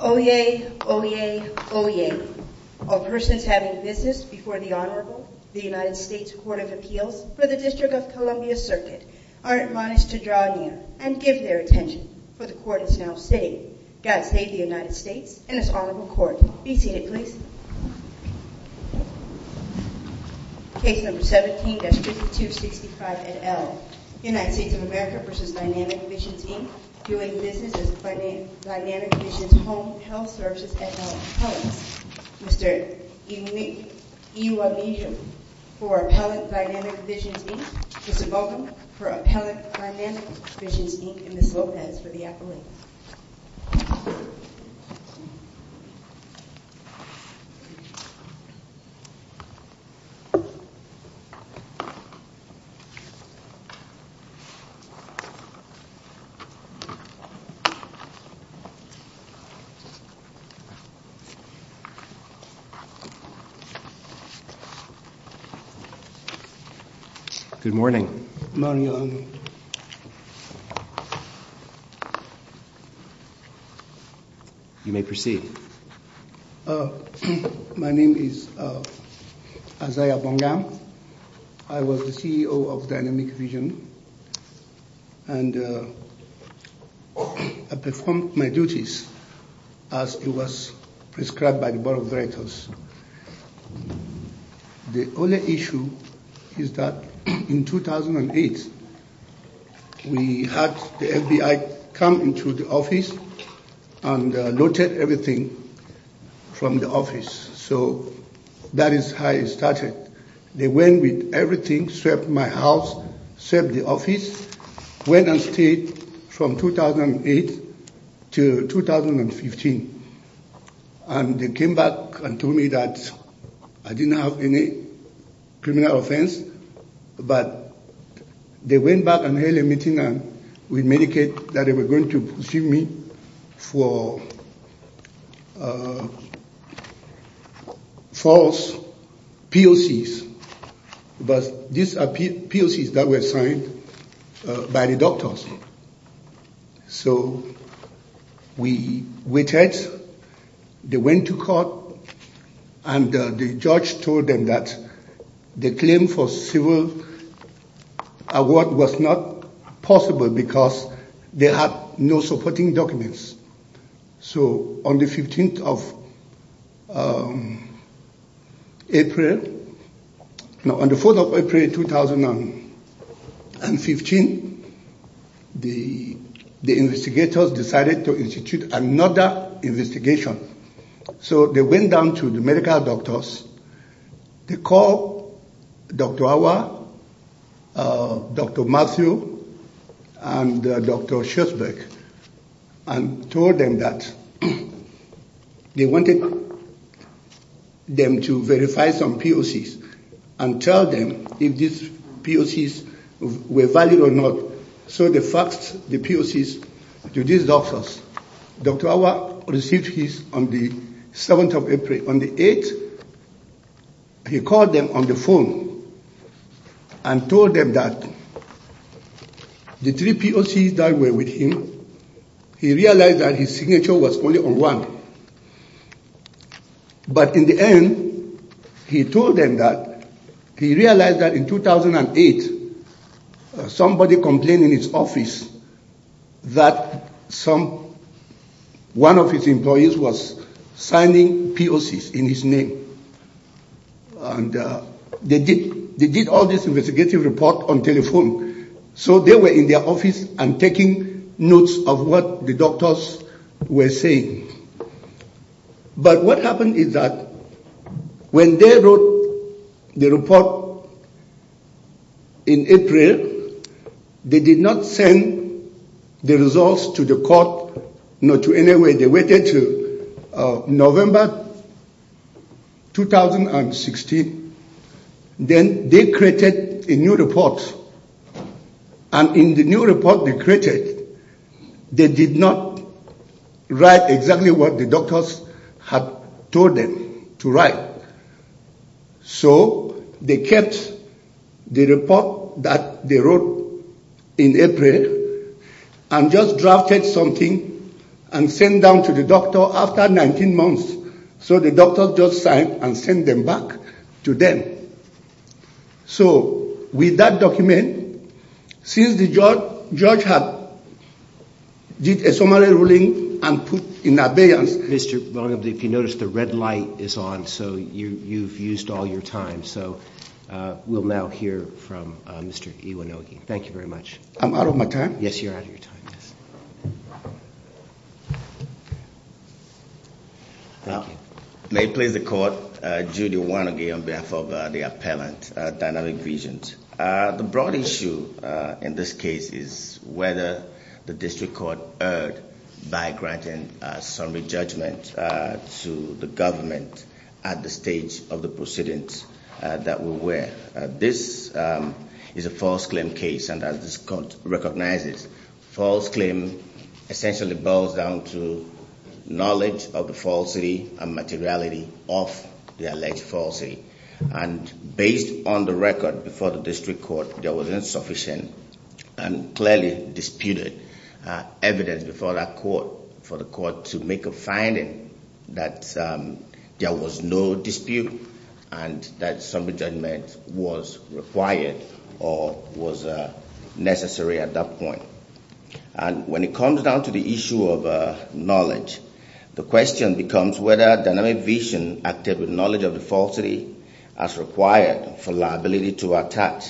Oyez, oyez, oyez. All persons having business before the Honorable, the United States Court of Appeals, for the District of Columbia Circuit, are admonished to draw near and give their attention, for the Court is now sitting. God save the United States and its Honorable Court. Be seated, please. Case No. 17, District 265, et al., United States of America v. Dynamic Visions, Inc., doing business as Dynamic Visions Home Health Services, et al., appellant, Mr. Iwamizu, for Appellant Dynamic Visions, Inc., Mr. Bogum, for Appellant Dynamic Visions, Inc., and Ms. Lopez for the appellate. Good morning. You may proceed. Thank you. for false POCs, but these are POCs that were signed by the doctors. So we waited. They went to court, and the judge told them that the claim for civil award was not possible because they had no supporting documents. So on the 4th of April, 2015, the investigators decided to institute another investigation. So they went down to the medical doctors. They called Dr. Awa, Dr. Matthew, and Dr. Schultzberg and told them that they wanted them to verify some POCs and tell them if these POCs were valid or not. So they faxed the POCs to these doctors. Dr. Awa received his on the 7th of April. On the 8th, he called them on the phone and told them that the three POCs that were with him, he realized that his signature was only on one. But in the end, he told them that he realized that in 2008, somebody complained in his office that one of his employees was signing POCs in his name. They did all this investigative report on telephone. So they were in their office and taking notes of what the doctors were saying. But what happened is that when they wrote the report in April, they did not send the results to the court. They waited until November 2016. Then they created a new report. And in the new report they created, they did not write exactly what the doctors had told them to write. So they kept the report that they wrote in April and just drafted something and sent down to the doctor after 19 months. So the doctor just signed and sent them back to them. So with that document, since the judge had did a summary ruling and put in abeyance… Mr. Bonobu, if you notice, the red light is on, so you've used all your time. So we'll now hear from Mr. Iwanogi. Thank you very much. I'm out of my time? Yes, you're out of your time. Thank you. May it please the court, Judy Iwanogi on behalf of the appellant, Dynamic Visions. The broad issue in this case is whether the district court erred by granting summary judgment to the government at the stage of the proceedings that we're aware of. This is a false claim case, and as this court recognizes, false claim essentially boils down to knowledge of the falsity and materiality of the alleged falsity. And based on the record before the district court, there was insufficient and clearly disputed evidence before that court for the court to make a finding that there was no dispute and that summary judgment was required or was necessary at that point. And when it comes down to the issue of knowledge, the question becomes whether Dynamic Vision acted with knowledge of the falsity as required for liability to attack.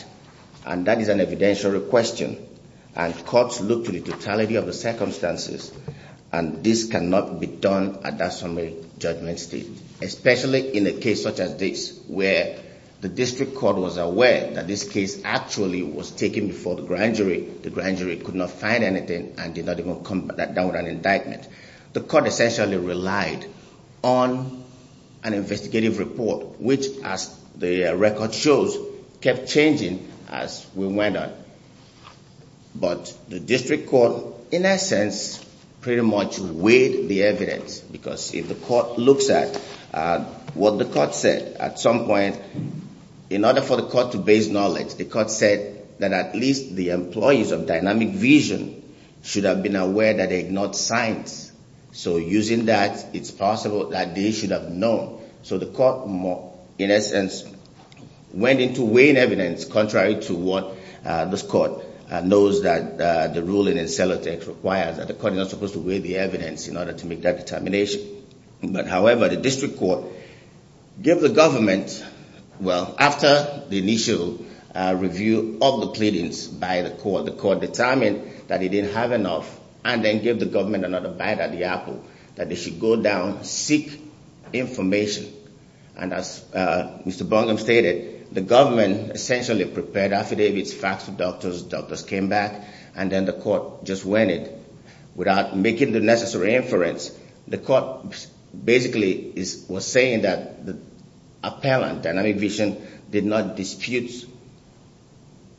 And that is an evidentiary question, and courts look to the totality of the circumstances, and this cannot be done at that summary judgment stage. Especially in a case such as this, where the district court was aware that this case actually was taken before the grand jury, the grand jury could not find anything and did not even come down with an indictment. The court essentially relied on an investigative report, which as the record shows, kept changing as we went on. But the district court, in essence, pretty much weighed the evidence. Because if the court looks at what the court said, at some point, in order for the court to base knowledge, the court said that at least the employees of Dynamic Vision should have been aware that they ignored signs. So using that, it's possible that they should have known. So the court, in essence, went into weighing evidence contrary to what this court knows that the ruling in Celotex requires, that the court is not supposed to weigh the evidence in order to make that determination. But however, the district court gave the government, well, after the initial review of the pleadings by the court, the court determined that it didn't have enough, and then gave the government another bite at the apple, that they should go down, seek information. And as Mr. Bungum stated, the government essentially prepared affidavits, faxed to doctors, doctors came back, and then the court just went in. Without making the necessary inference, the court basically was saying that the appellant, Dynamic Vision, did not dispute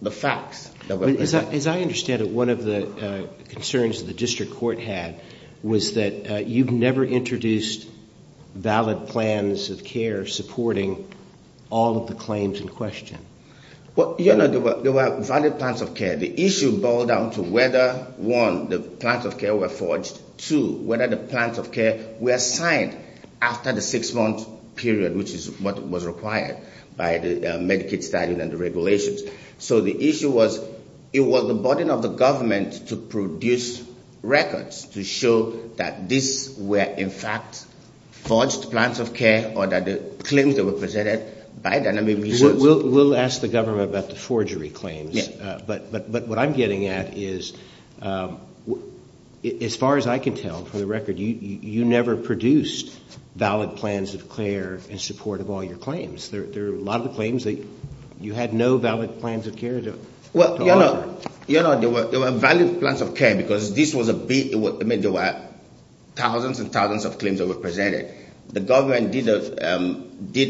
the facts that were presented. As I understand it, one of the concerns that the district court had was that you've never introduced valid plans of care supporting all of the claims in question. Well, you know, there were valid plans of care. The issue boiled down to whether, one, the plans of care were forged, two, whether the plans of care were signed after the six-month period, which is what was required by the Medicaid statute and the regulations. So the issue was, it was the burden of the government to produce records to show that this were, in fact, forged plans of care or that the claims that were presented by Dynamic Vision. We'll ask the government about the forgery claims. But what I'm getting at is, as far as I can tell, for the record, you never produced valid plans of care in support of all your claims. There are a lot of the claims that you had no valid plans of care to offer. Well, you know, there were valid plans of care because this was a big, I mean, there were thousands and thousands of claims that were presented. The government did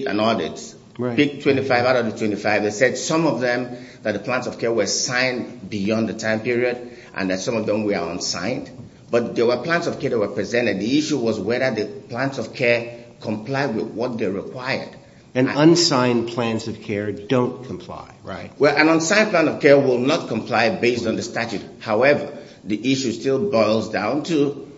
an audit, picked 25 out of the 25 that said some of them, that the plans of care were signed beyond the time period and that some of them were unsigned. But there were plans of care that were presented. The issue was whether the plans of care complied with what they required. And unsigned plans of care don't comply, right? Well, an unsigned plan of care will not comply based on the statute. However, the issue still boils down to,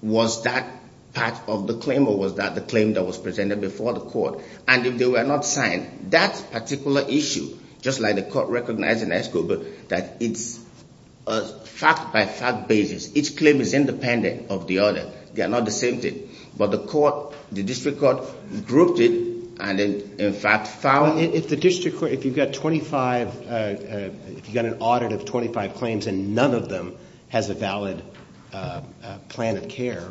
was that part of the claim or was that the claim that was presented before the court? And if they were not signed, that particular issue, just like the court recognized in that scope, that it's a fact-by-fact basis. Each claim is independent of the other. They are not the same thing. But the court, the district court, grouped it and, in fact, found it. Well, if the district court, if you've got 25, if you've got an audit of 25 claims and none of them has a valid plan of care,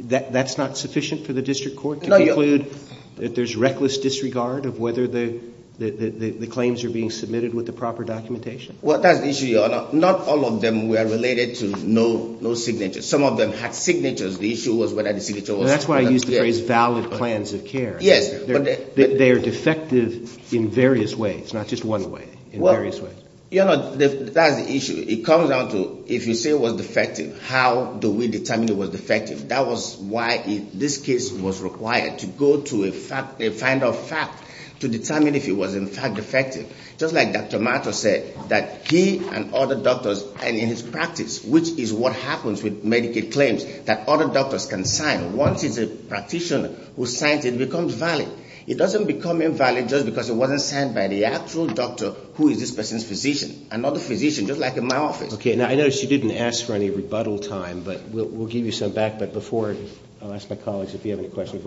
that's not sufficient for the district court to conclude that there's reckless disregard of whether the claims are being submitted with the proper documentation? Well, that's the issue, Your Honor. Not all of them were related to no signature. Some of them had signatures. The issue was whether the signature was valid. Well, that's why I used the phrase valid plans of care. Yes. They are defective in various ways, not just one way, in various ways. Your Honor, that's the issue. It comes down to, if you say it was defective, how do we determine it was defective? That was why this case was required, to go to a find-off fact to determine if it was, in fact, defective. Just like Dr. Mato said, that he and other doctors, and in his practice, which is what happens with Medicaid claims, that other doctors can sign. Once it's a practitioner who signs it, it becomes valid. It doesn't become invalid just because it wasn't signed by the actual doctor who is this person's physician, another physician, just like in my office. Okay. Now, I notice you didn't ask for any rebuttal time, but we'll give you some back. But before, I'll ask my colleagues if you have any questions.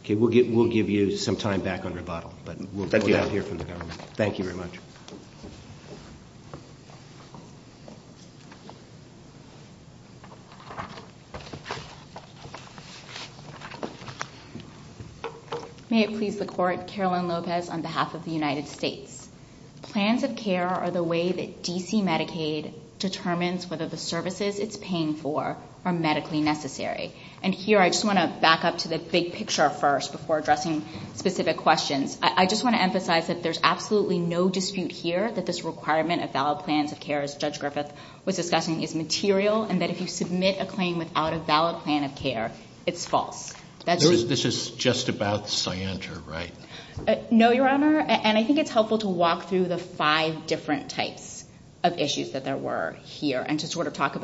Okay. We'll give you some time back on rebuttal, but we'll go down here from the government. Thank you very much. May it please the Court, Caroline Lopez on behalf of the United States. Plans of care are the way that D.C. Medicaid determines whether the services it's paying for are medically necessary. And here, I just want to back up to the big picture first before addressing specific questions. I just want to emphasize that there's absolutely no dispute here that this requirement of valid plans of care, as Judge Griffith was discussing, is material, and that if you submit a claim without a valid plan of care, it's false. This is just about scienter, right? No, Your Honor, and I think it's helpful to walk through the five different types of issues that there were here, and to talk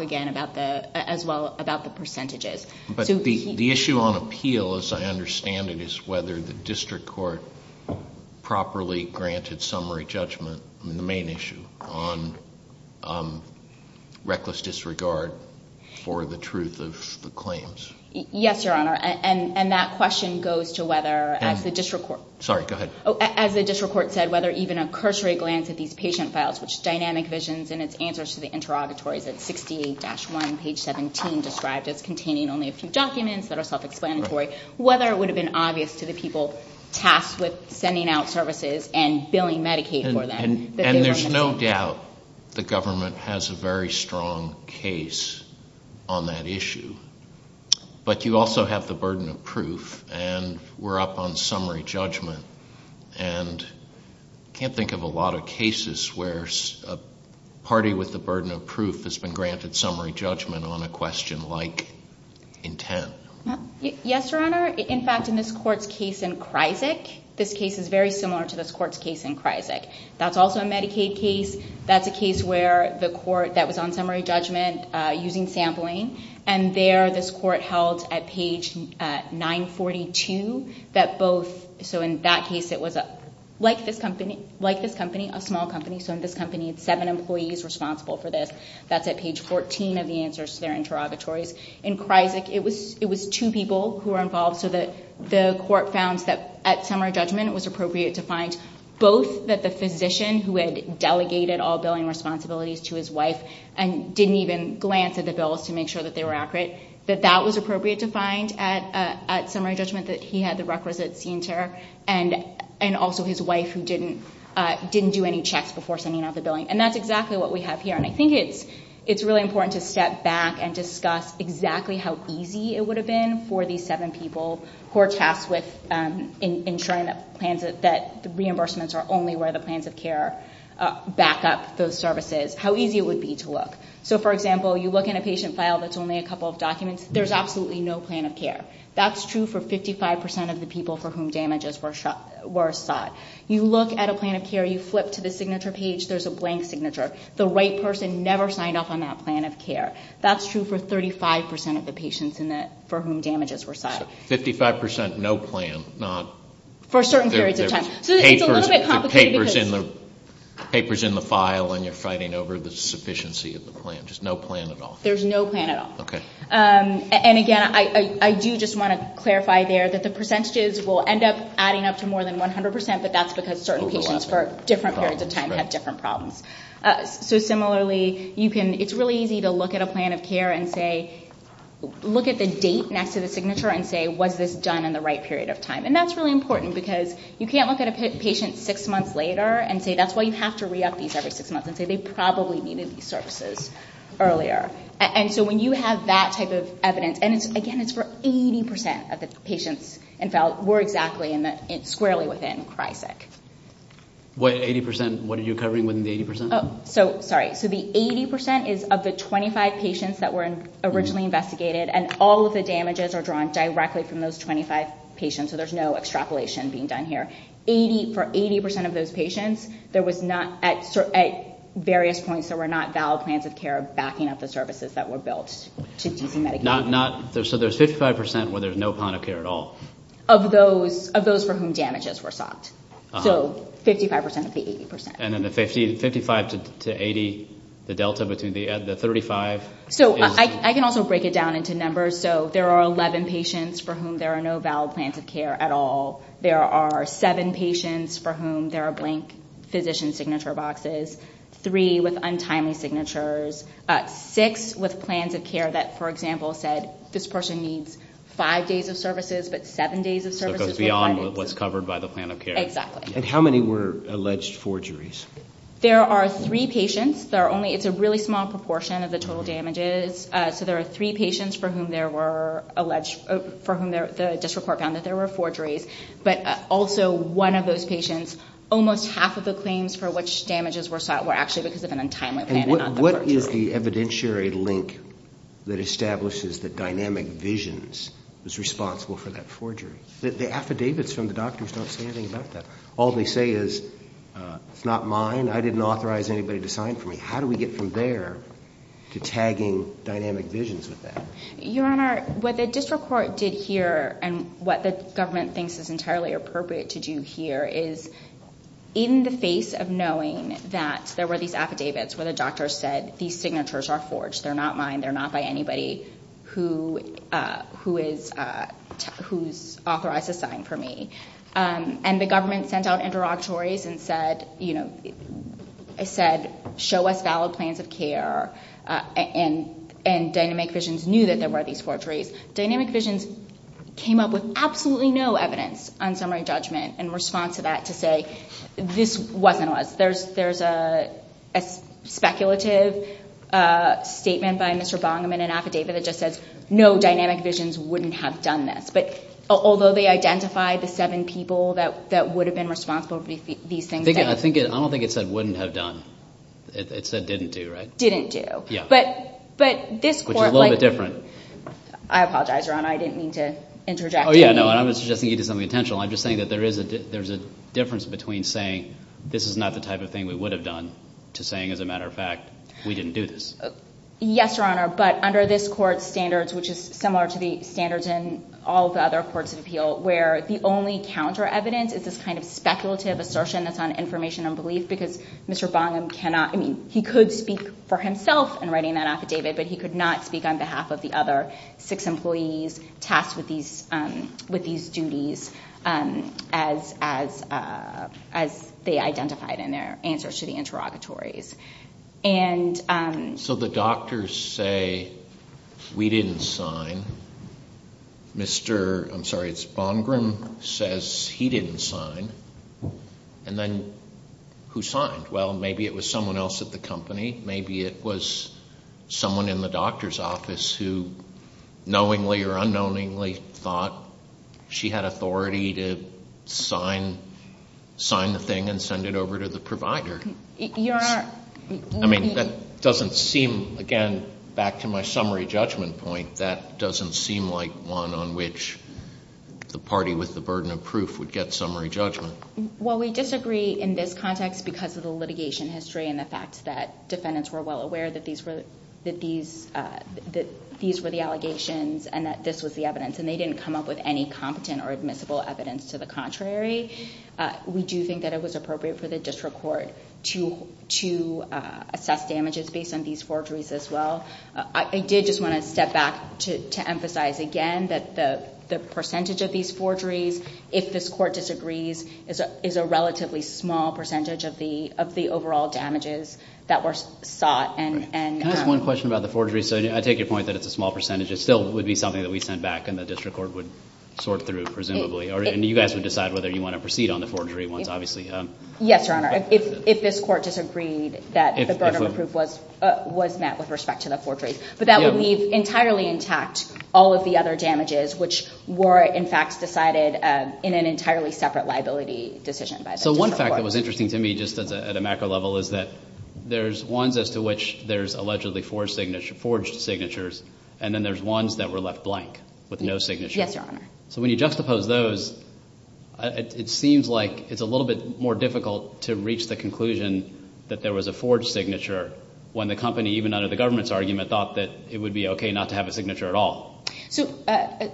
again as well about the percentages. But the issue on appeal, as I understand it, is whether the district court properly granted summary judgment on the main issue, on reckless disregard for the truth of the claims. Yes, Your Honor, and that question goes to whether, as the district court. Sorry, go ahead. As the district court said, whether even a cursory glance at these patient files, which dynamic visions in its answers to the interrogatories at 68-1, page 17, described as containing only a few documents that are self-explanatory, whether it would have been obvious to the people tasked with sending out services and billing Medicaid for them. And there's no doubt the government has a very strong case on that issue. But you also have the burden of proof, and we're up on summary judgment. And I can't think of a lot of cases where a party with the burden of proof has been granted summary judgment on a question like intent. Yes, Your Honor. In fact, in this court's case in Kryzik, this case is very similar to this court's case in Kryzik. That's also a Medicaid case. That's a case where the court that was on summary judgment using sampling, and there this court held at page 942 that both, so in that case it was like this company, a small company. So in this company, it's seven employees responsible for this. That's at page 14 of the answers to their interrogatories. In Kryzik, it was two people who were involved, so the court found that at summary judgment it was appropriate to find both that the physician who had delegated all billing responsibilities to his wife and didn't even glance at the bills to make sure that they were accurate, that that was appropriate to find at summary judgment, that he had the requisite center, and also his wife who didn't do any checks before sending out the billing. And that's exactly what we have here. And I think it's really important to step back and discuss exactly how easy it would have been for these seven people who are tasked with ensuring that the reimbursements are only where the plans of care back up those services, how easy it would be to look. So for example, you look in a patient file that's only a couple of documents, there's absolutely no plan of care. That's true for 55% of the people for whom damages were sought. You look at a plan of care, you flip to the signature page, there's a blank signature. The right person never signed off on that plan of care. That's true for 35% of the patients for whom damages were sought. So 55% no plan, not... For certain periods of time. So it's a little bit complicated because... Over the sufficiency of the plan, just no plan at all. There's no plan at all. Okay. And again, I do just want to clarify there that the percentages will end up adding up to more than 100%, but that's because certain patients for different periods of time have different problems. So similarly, it's really easy to look at a plan of care and say, look at the date next to the signature and say, was this done in the right period of time? And that's really important because you can't look at a patient six months later and say, that's why you have to re-up these every six months and say they probably needed these services earlier. And so when you have that type of evidence, and again, it's for 80% of the patients were exactly squarely within CRYSIC. What 80%? What are you covering within the 80%? Sorry. So the 80% is of the 25 patients that were originally investigated, and all of the damages are drawn directly from those 25 patients, so there's no extrapolation being done here. For 80% of those patients, there was not, at various points, there were not valid plans of care backing up the services that were built to DC Medicaid. So there's 55% where there's no plan of care at all? Of those for whom damages were sought. So 55% of the 80%. And then the 55 to 80, the delta between the 35 is? So I can also break it down into numbers. So there are 11 patients for whom there are no valid plans of care at all. There are seven patients for whom there are blank physician signature boxes. Three with untimely signatures. Six with plans of care that, for example, said this person needs five days of services, but seven days of services were funded. So it goes beyond what's covered by the plan of care. Exactly. And how many were alleged forgeries? There are three patients. It's a really small proportion of the total damages. So there are three patients for whom the district court found that there were forgeries. But also one of those patients, almost half of the claims for which damages were sought were actually because of an untimely plan and not the forgery. And what is the evidentiary link that establishes that Dynamic Visions was responsible for that forgery? The affidavits from the doctors don't say anything about that. All they say is, it's not mine, I didn't authorize anybody to sign for me. How do we get from there to tagging Dynamic Visions with that? Your Honor, what the district court did here and what the government thinks is entirely appropriate to do here is in the face of knowing that there were these affidavits where the doctor said, these signatures are forged, they're not mine, they're not by anybody who's authorized to sign for me. And the government sent out interrogatories and said, show us valid plans of care. And Dynamic Visions knew that there were these forgeries. Dynamic Visions came up with absolutely no evidence on summary judgment in response to that to say, this wasn't us. There's a speculative statement by Mr. Bongaman in an affidavit that just says, no, Dynamic Visions wouldn't have done this. Although they identified the seven people that would have been responsible for these things. I don't think it said wouldn't have done. It said didn't do, right? Didn't do. Which is a little bit different. I apologize, Your Honor, I didn't mean to interject. Oh, yeah, no, I wasn't suggesting you did something intentional. I'm just saying that there is a difference between saying, this is not the type of thing we would have done, to saying, as a matter of fact, we didn't do this. Yes, Your Honor, but under this court's standards, which is similar to the standards in all the other courts of appeal, where the only counter evidence is this kind of speculative assertion that's on information and belief, because Mr. Bongaman cannot, I mean, he could speak for himself in writing that affidavit, but he could not speak on behalf of the other six employees tasked with these duties as they identified in their answers to the interrogatories. So the doctors say, we didn't sign. Mr. Bongram says he didn't sign. And then who signed? Well, maybe it was someone else at the company. Maybe it was someone in the doctor's office who knowingly or unknowingly thought she had authority to sign the thing and send it over to the provider. I mean, that doesn't seem, again, back to my summary judgment point, that doesn't seem like one on which the party with the burden of proof would get summary judgment. Well, we disagree in this context because of the litigation history and the fact that defendants were well aware that these were the allegations and that this was the evidence, and they didn't come up with any competent or admissible evidence to the contrary. We do think that it was appropriate for the district court to assess damages based on these forgeries as well. I did just want to step back to emphasize again that the percentage of these forgeries, if this court disagrees, is a relatively small percentage of the overall damages that were sought. Can I ask one question about the forgery? So I take your point that it's a small percentage. It still would be something that we sent back and the district court would sort through, presumably. And you guys would decide whether you want to proceed on the forgery ones, obviously. Yes, Your Honor. If this court disagreed that the burden of proof was met with respect to the forgery. But that would leave entirely intact all of the other damages, which were, in fact, decided in an entirely separate liability decision by the district court. So one fact that was interesting to me just at a macro level is that there's ones as to which there's allegedly forged signatures, and then there's ones that were left blank with no signature. Yes, Your Honor. So when you juxtapose those, it seems like it's a little bit more difficult to reach the conclusion that there was a forged signature when the company, even under the government's argument, thought that it would be okay not to have a signature at all. So,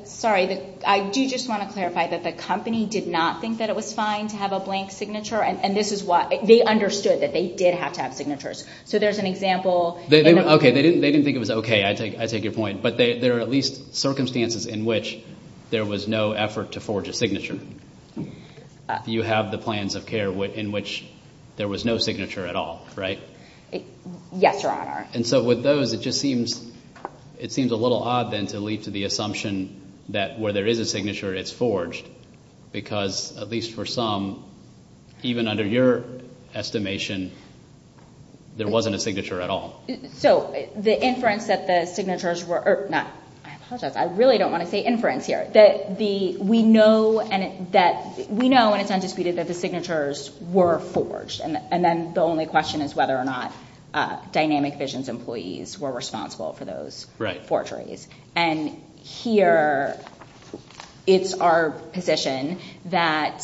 sorry, I do just want to clarify that the company did not think that it was fine to have a blank signature, and this is why they understood that they did have to have signatures. So there's an example. Okay. They didn't think it was okay. I take your point. But there are at least circumstances in which there was no effort to forge a signature. You have the plans of care in which there was no signature at all, right? Yes, Your Honor. And so with those, it just seems a little odd then to lead to the assumption that where there is a signature, it's forged, because at least for some, even under your estimation, there wasn't a signature at all. So the inference that the signatures were – I apologize. I really don't want to say inference here. We know, and it's undisputed, that the signatures were forged, and then the only question is whether or not Dynamic Vision's employees were responsible for those forgeries. And here it's our position that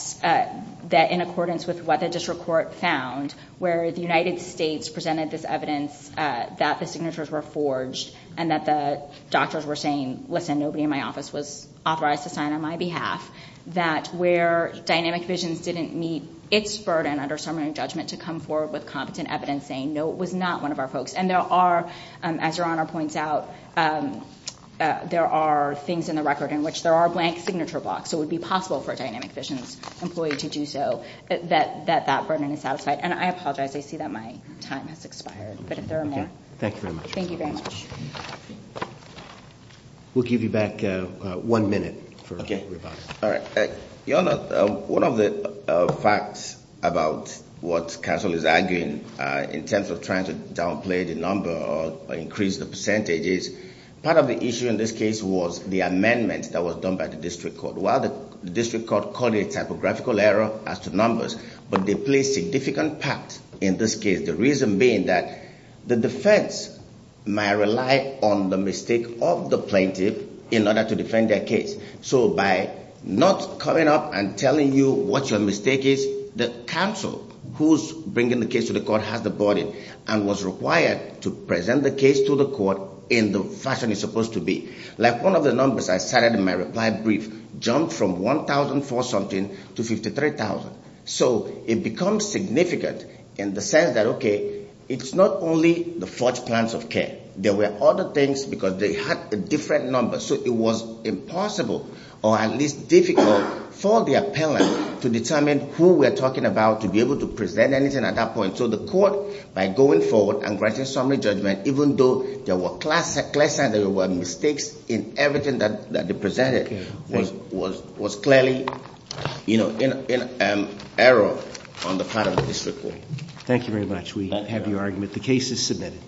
in accordance with what the district court found, where the United States presented this evidence that the signatures were forged and that the doctors were saying, listen, nobody in my office was authorized to sign on my behalf, that where Dynamic Vision's didn't meet its burden under summary judgment to come forward with competent evidence saying, no, it was not one of our folks. And there are, as Your Honor points out, there are things in the record in which there are blank signature blocks. So it would be possible for a Dynamic Vision's employee to do so, that that burden is satisfied. And I apologize. I see that my time has expired, but if there are more. Okay. Thank you very much. Thank you very much. We'll give you back one minute for rebuttal. Okay. All right. Your Honor, one of the facts about what counsel is arguing in terms of trying to downplay the number or increase the percentage is part of the issue in this case was the amendment that was done by the district court. While the district court called it a typographical error as to numbers, but they play a significant part in this case, the reason being that the defense may rely on the mistake of the plaintiff in order to defend their case. So by not coming up and telling you what your mistake is, the counsel who's bringing the case to the court has the burden and was required to present the case to the court in the fashion it's supposed to be. Like one of the numbers I cited in my reply brief jumped from 1,000 for something to 53,000. So it becomes significant in the sense that, okay, it's not only the forged plans of care. There were other things because they had a different number. So it was impossible or at least difficult for the appellant to determine who we're talking about to be able to present anything at that point. So the court, by going forward and granting summary judgment, even though there were classifications, there were mistakes in everything that they presented, was clearly, you know, an error on the part of the district court. Thank you very much. We have your argument. The case is submitted.